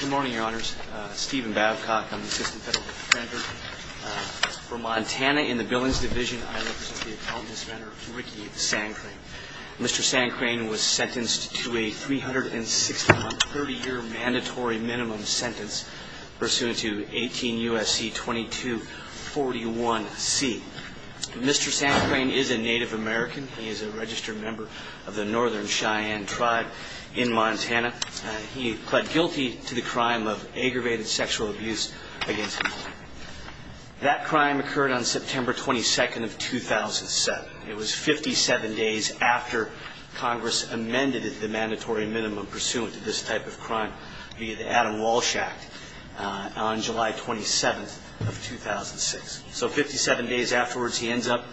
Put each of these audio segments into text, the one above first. Good morning, Your Honors. Stephen Babcock, I'm the Assistant Federal Defender for Montana in the Billings Division. I represent the Appellant, Ms. Vander Rickey Sandcrane. Mr. Sandcrane was sentenced to a 360-month, 30-year mandatory minimum sentence pursuant to 18 U.S.C. 2241C. Mr. Sandcrane is a Native American. He is a registered member of the Northern Cheyenne Tribe in Montana. He pled guilty to the crime of aggravated sexual abuse against him. That crime occurred on September 22nd of 2007. It was 57 days after Congress amended the mandatory minimum pursuant to this type of crime via the Adam Walsh Act on July 27th of 2006. So 57 days afterwards, he ends up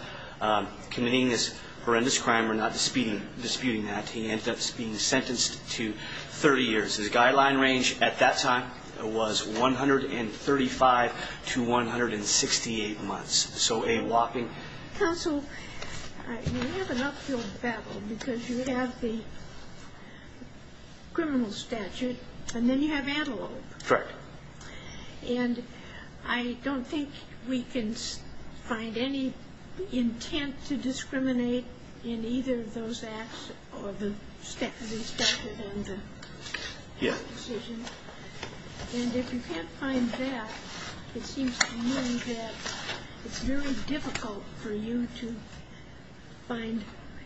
committing this horrendous crime. We're not disputing that. He ends up being sentenced to 30 years. His guideline range at that time was 135 to 168 months. So a whopping... Counsel, you have an uphill battle because you have the criminal statute and then you have antelope. Correct. And I don't think we can find any intent to discriminate in either of those acts or the statute on the decision. And if you can't find that, it seems to me that it's very difficult for you to find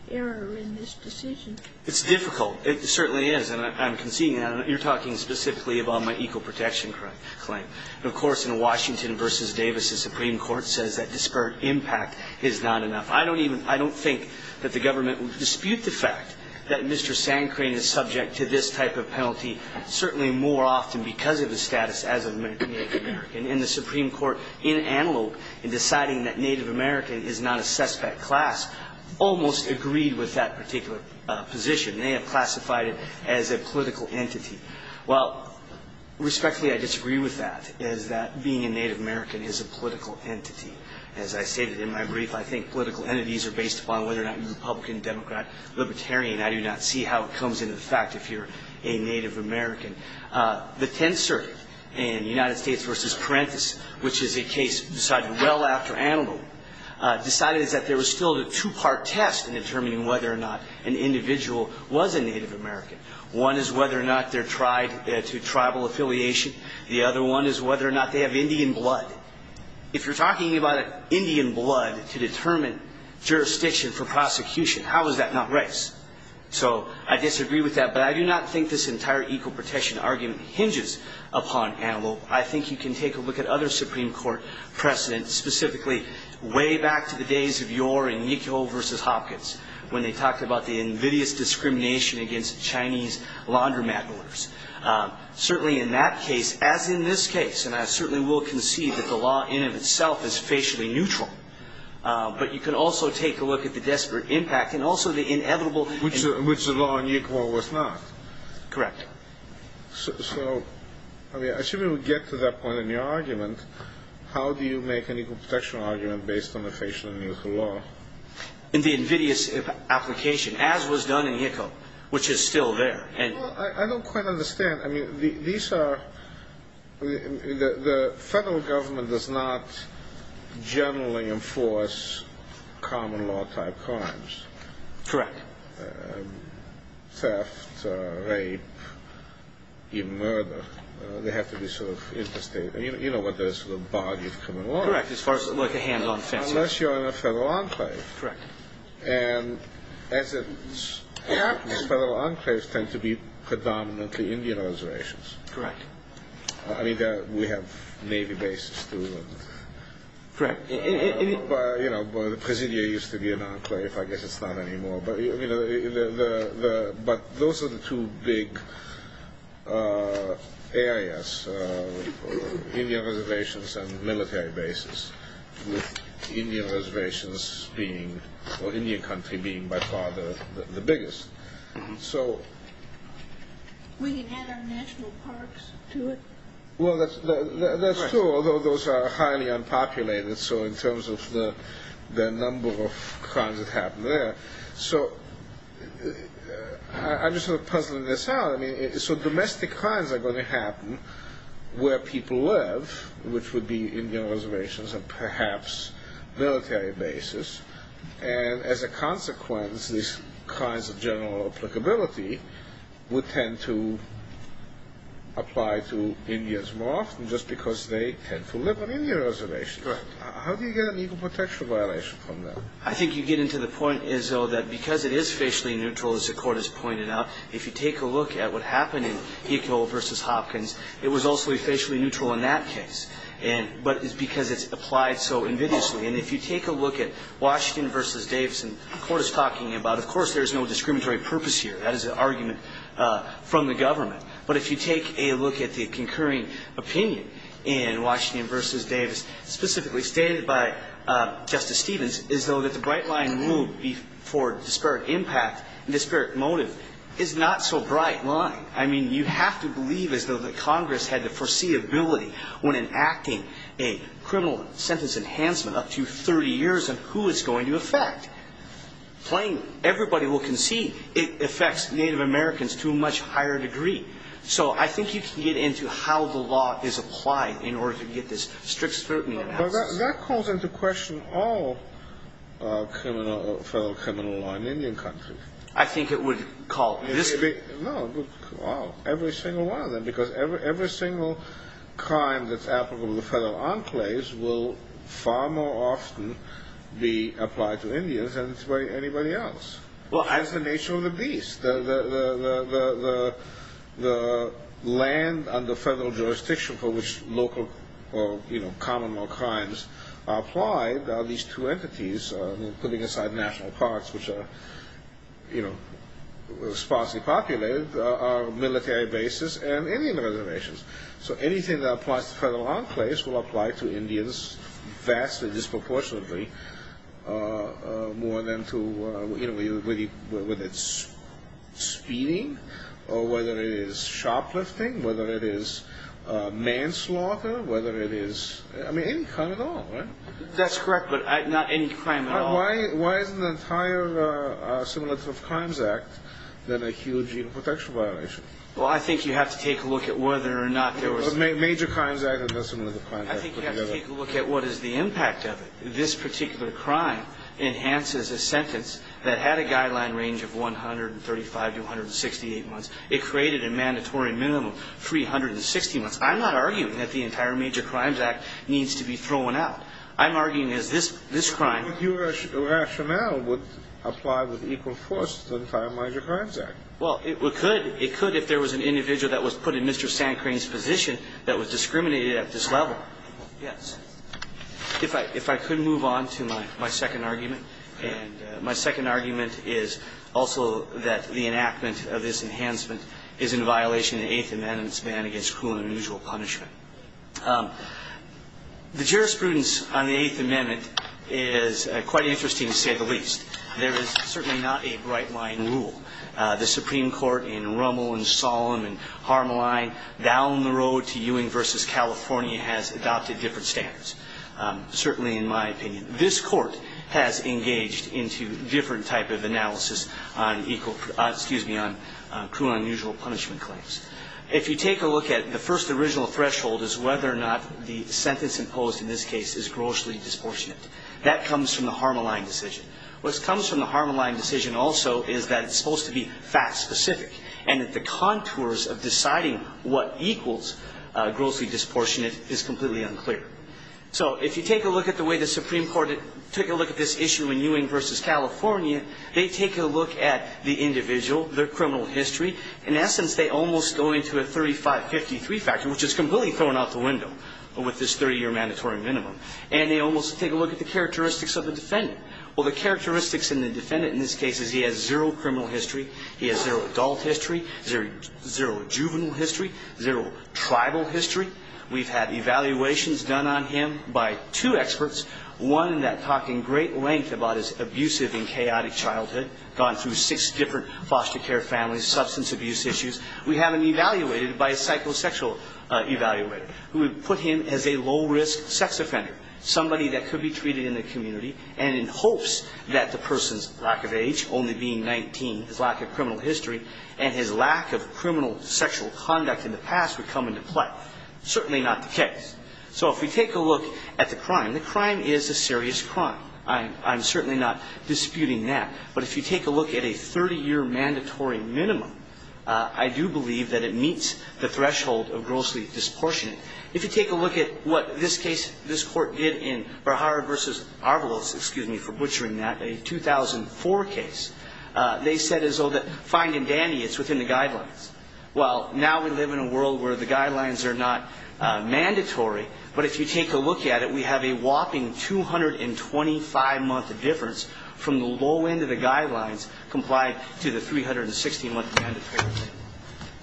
error in this decision. It's difficult. It certainly is. And I'm conceding that. You're talking specifically about my equal protection claim. Of course, in Washington v. Davis, the Supreme Court says that disparate impact is not enough. I don't think that the government would dispute the fact that Mr. Sandcrane is subject to this type of penalty, certainly more often because of his status as a Native American. And the Supreme Court, in Antelope, in deciding that Native American is not a suspect class, almost agreed with that particular position. They have classified it as a political entity. Well, respectfully, I disagree with that, is that being a Native American is a political entity. As I stated in my brief, I think political entities are based upon whether or not you're Republican, Democrat, Libertarian. I do not see how it comes into effect if you're a Native American. The Tenth Circuit in United States v. Parenthis, which is a case decided well after Antelope, decided that there was still a two-part test in determining whether or not an individual was a Native American. One is whether or not they're tried to tribal affiliation. The other one is whether or not they have Indian blood. If you're talking about Indian blood to determine jurisdiction for prosecution, how is that not race? So I disagree with that, but I do not think this entire equal protection argument hinges upon Antelope. I think you can take a look at other Supreme Court precedents, specifically way back to the days of Yore and Yickel v. Hopkins, when they talked about the invidious discrimination against Chinese laundromat owners. Certainly in that case, as in this case, and I certainly will concede that the law in and of itself is facially neutral, but you can also take a look at the desperate impact and also the inevitable... Which the law in Yickel was not. Correct. So, I mean, assuming we get to that point in your argument, how do you make an equal protection argument based on a facially neutral law? In the invidious application, as was done in Yickel, which is still there. Well, I don't quite understand. I mean, these are... The federal government does not generally enforce common law-type crimes. Correct. Theft, rape, even murder. They have to be sort of interstate. You know what the body of criminal law is. Correct, as far as, like, a hand on fence. Unless you're in a federal enclave. Correct. And federal enclaves tend to be predominantly Indian reservations. Correct. I mean, we have Navy bases, too. Correct. You know, the Presidio used to be an enclave. I guess it's not anymore. But those are the two big areas, Indian reservations and military bases, with Indian reservations being, or Indian country being by far the biggest. So... We can add our national parks to it. Well, that's true, although those are highly unpopulated, so in terms of the number of crimes that happen there. So I'm just sort of puzzling this out. So domestic crimes are going to happen where people live, which would be Indian reservations and perhaps military bases. And as a consequence, these kinds of general applicability would tend to apply to Indians more often just because they tend to live on Indian reservations. Correct. How do you get an equal protection violation from that? I think you get into the point, Izzo, that because it is facially neutral, as the Court has pointed out, if you take a look at what happened in Heco v. Hopkins, it was also officially neutral in that case, but it's because it's applied so invidiously. And if you take a look at Washington v. Davis, and the Court is talking about, of course, there's no discriminatory purpose here. That is an argument from the government. But if you take a look at the concurring opinion in Washington v. Davis, specifically stated by Justice Stevens, as though that the bright line would be for disparate impact, disparate motive, is not so bright line. I mean, you have to believe as though that Congress had the foreseeability when enacting a criminal sentence enhancement up to 30 years of who it's going to affect. Playing everybody will concede, it affects Native Americans to a much higher degree. So I think you can get into how the law is applied in order to get this strict scrutiny analysis. But that calls into question all criminal, federal criminal law in Indian country. I think it would call this. No, every single one of them. Because every single crime that's applicable to the federal enclaves will far more often be applied to Indians than to anybody else. Well, that's the nature of the beast. The land under federal jurisdiction for which local or common law crimes are applied, these two entities, putting aside national parks, which are sparsely populated, are military bases and Indian reservations. So anything that applies to the federal enclaves will apply to Indians vastly disproportionately more than to, whether it's speeding or whether it is shoplifting, whether it is manslaughter, whether it is any crime at all. That's correct, but not any crime at all. Why isn't the entire Assimilative Crimes Act then a huge human protection violation? Well, I think you have to take a look at whether or not there was... Major Crimes Act and the Assimilative Crimes Act put together. I think you have to take a look at what is the impact of it. This particular crime enhances a sentence that had a guideline range of 135 to 168 months. It created a mandatory minimum, 360 months. I'm not arguing that the entire Major Crimes Act needs to be thrown out. I'm arguing that this crime... I thought your rationale would apply with equal force to the entire Major Crimes Act. Well, it could. It could if there was an individual that was put in Mr. Sandcrain's position that was discriminated at this level. Yes. If I could move on to my second argument. And my second argument is also that the enactment of this enhancement is in violation of the Eighth Amendment's ban against cruel and unusual punishment. The jurisprudence on the Eighth Amendment is quite interesting to say the least. There is certainly not a bright line rule. The Supreme Court in Rummel and Sollum and Harmeline, down the road to Ewing v. California, has adopted different standards, certainly in my opinion. This Court has engaged into different type of analysis on cruel and unusual punishment claims. If you take a look at the first original threshold is whether or not the sentence imposed in this case is grossly disproportionate. That comes from the Harmeline decision. What comes from the Harmeline decision also is that it's supposed to be fact-specific and that the contours of deciding what equals grossly disproportionate is completely unclear. So if you take a look at the way the Supreme Court took a look at this issue in Ewing v. California, they take a look at the individual, their criminal history. In essence, they almost go into a 35-53 factor, which is completely thrown out the window with this 30-year mandatory minimum. And they almost take a look at the characteristics of the defendant. Well, the characteristics in the defendant in this case is he has zero criminal history, he has zero adult history, zero juvenile history, zero tribal history. We've had evaluations done on him by two experts, one that talked in great length about his abusive and chaotic childhood, gone through six different foster care families, substance abuse issues. We have him evaluated by a psychosexual evaluator who would put him as a low-risk sex offender, somebody that could be treated in the community and in hopes that the person's lack of age, only being 19, his lack of criminal history, and his lack of criminal sexual conduct in the past would come into play. Certainly not the case. So if we take a look at the crime, the crime is a serious crime. I'm certainly not disputing that. But if you take a look at a 30-year mandatory minimum, I do believe that it meets the threshold of grossly disportionate. If you take a look at what this case, this court did in Bharara v. Arvalos, excuse me for butchering that, a 2004 case, they said as though that fine and dandy, it's within the guidelines. Well, now we live in a world where the guidelines are not mandatory. But if you take a look at it, we have a whopping 225-month difference from the low end of the guidelines complied to the 360-month mandatory limit.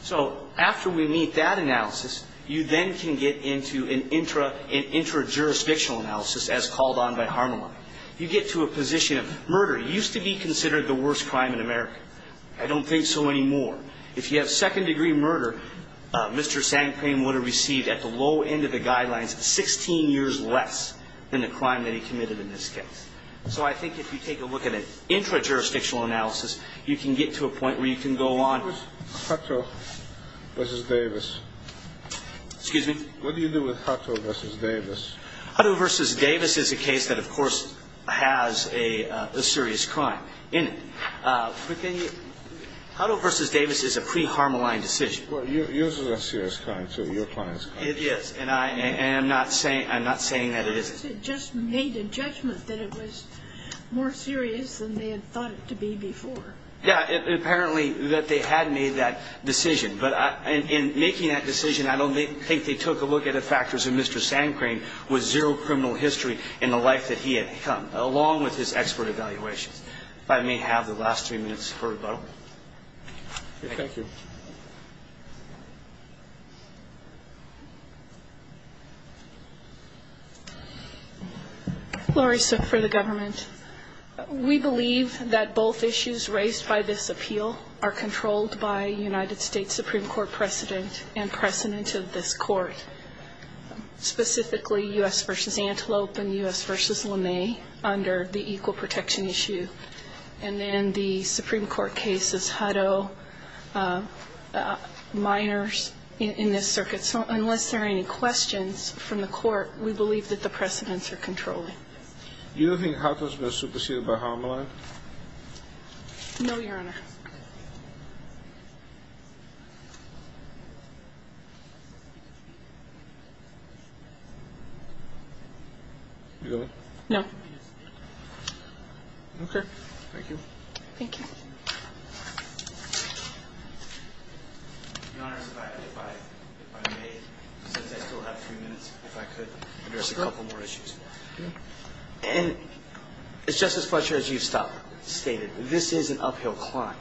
So after we meet that analysis, you then can get into an intra-jurisdictional analysis as called on by Harmeline. You get to a position of murder used to be considered the worst crime in America. I don't think so anymore. If you have second-degree murder, Mr. Sangprem would have received at the low end of the guidelines 16 years less than the crime that he committed in this case. So I think if you take a look at an intra-jurisdictional analysis, you can get to a point where you can go on. What was Hutto v. Davis? Excuse me? What do you do with Hutto v. Davis? Hutto v. Davis is a case that, of course, has a serious crime in it. Hutto v. Davis is a pre-Harmeline decision. Yours is a serious crime, too. Your client's crime. It is. And I'm not saying that it isn't. It just made a judgment that it was more serious than they had thought it to be before. Yeah. Apparently that they had made that decision. But in making that decision, I don't think they took a look at the factors of Mr. Sangprem with zero criminal history in the life that he had come, along with his expert evaluations. I may have the last three minutes to hear about it. Okay. Thank you. Laurie Suk for the government. We believe that both issues raised by this appeal are controlled by a United States Supreme Court precedent and precedent of this court, specifically U.S. v. Antelope and U.S. v. LeMay under the equal protection issue. And then the Supreme Court case is Hutto, minors in this circuit. So unless there are any questions from the court, we believe that the precedents are controlled. You don't think Hutto's been superseded by Harmeline? No, Your Honor. You going? No. Okay. Thank you. Thank you. Your Honor, if I may, since I still have three minutes, if I could address a couple more issues. And it's just as much as you've stated. This is an uphill climb.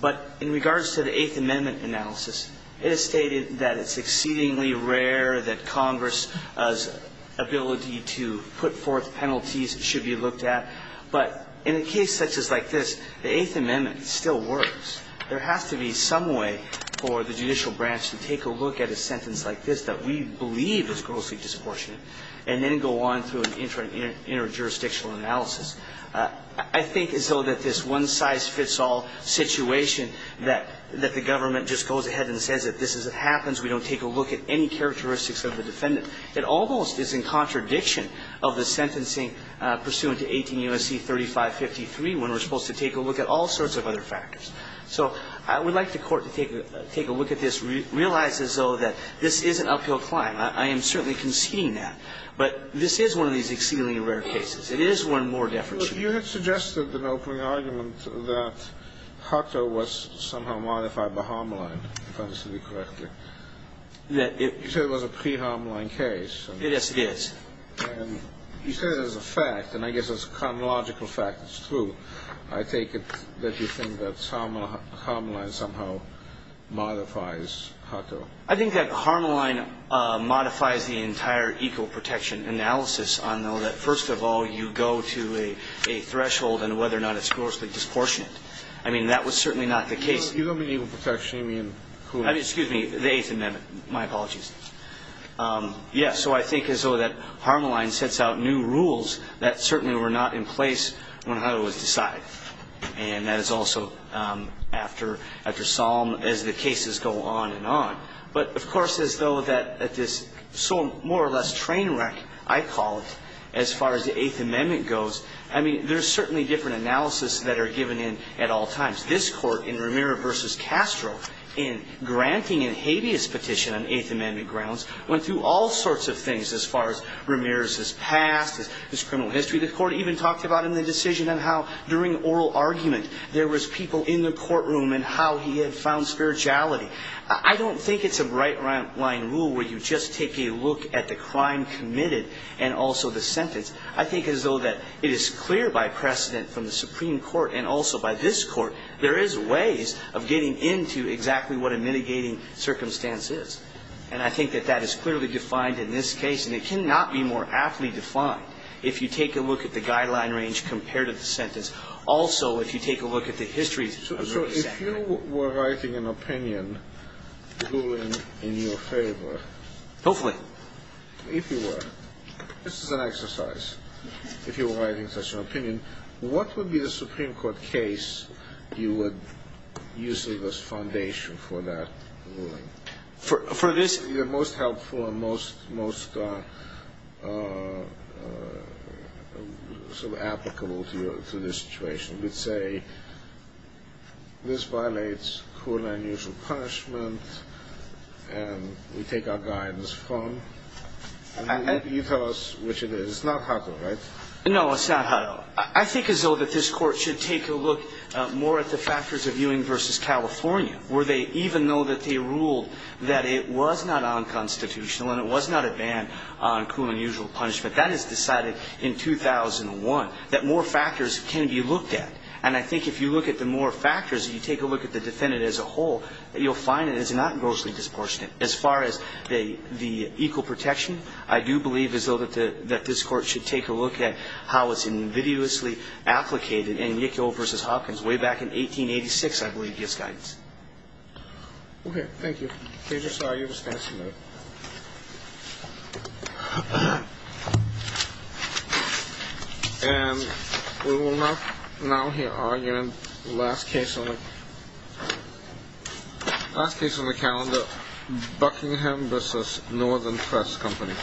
But in regards to the Eighth Amendment analysis, it is stated that it's exceedingly rare that Congress's ability to put forth penalties should be looked at. But in a case such as like this, the Eighth Amendment still works. There has to be some way for the judicial branch to take a look at a sentence like this that we believe is grossly disproportionate and then go on through an interjurisdictional analysis. I think as though that this one-size-fits-all situation that the government just goes ahead and says that this is what happens, we don't take a look at any characteristics of the defendant, it almost is in contradiction of the sentencing pursuant to 18 U.S.C. 3553 when we're supposed to take a look at all sorts of other factors. So I would like the court to take a look at this, realize as though that this is an uphill climb. I am certainly conceding that. But this is one of these exceedingly rare cases. It is one more deference to me. You had suggested an opening argument that Hutto was somehow modified by Harmelin, if I understood you correctly. You said it was a pre-Harmelin case. Yes, it is. And you said it as a fact. And I guess as a chronological fact, it's true. I take it that you think that Harmelin somehow modifies Hutto. I think that Harmelin modifies the entire equal protection analysis. I know that, first of all, you go to a threshold on whether or not it's grossly disproportionate. I mean, that was certainly not the case. You don't mean equal protection in whom? Excuse me, the Eighth Amendment. My apologies. Yes. So I think as though that Harmelin sets out new rules that certainly were not in place when Hutto was decided. And that is also after Salm, as the cases go on and on. But, of course, as though that this more or less train wreck, I call it, as far as the Eighth Amendment goes, I mean, there's certainly different analysis that are given in at all times. This Court in Ramirez v. Castro in granting a habeas petition on Eighth Amendment grounds went through all sorts of things as far as Ramirez's past, his criminal history. The Court even talked about in the decision and how during oral argument there was people in the courtroom and how he had found spirituality. I don't think it's a right-line rule where you just take a look at the crime committed and also the sentence. I think as though that it is clear by precedent from the Supreme Court and also by this Court there is ways of getting into exactly what a mitigating circumstance is. And I think that that is clearly defined in this case. And it cannot be more aptly defined if you take a look at the guideline range compared to the sentence. Also, if you take a look at the history of Ramirez's act. If you were writing an opinion ruling in your favor. Hopefully. If you were. This is an exercise. If you were writing such an opinion, what would be the Supreme Court case you would use as the foundation for that ruling? For this. The most helpful and most sort of applicable to this situation. This violates cruel and unusual punishment. And we take our guidance from. And you tell us which it is. It's not Hutto, right? No, it's not Hutto. I think as though that this Court should take a look more at the factors of Ewing versus California. Where they, even though that they ruled that it was not unconstitutional and it was not a ban on cruel and unusual punishment. That is decided in 2001. That more factors can be looked at. And I think if you look at the more factors and you take a look at the defendant as a whole. You'll find it is not grossly disproportionate. As far as the equal protection. I do believe as though that this Court should take a look at how it's invidiously applicated in Yickel versus Hopkins way back in 1886 I believe gives guidance. Okay. Thank you. Please restore your dispensary. And we will now hear our last case on the calendar. Buckingham versus Northern Press Company.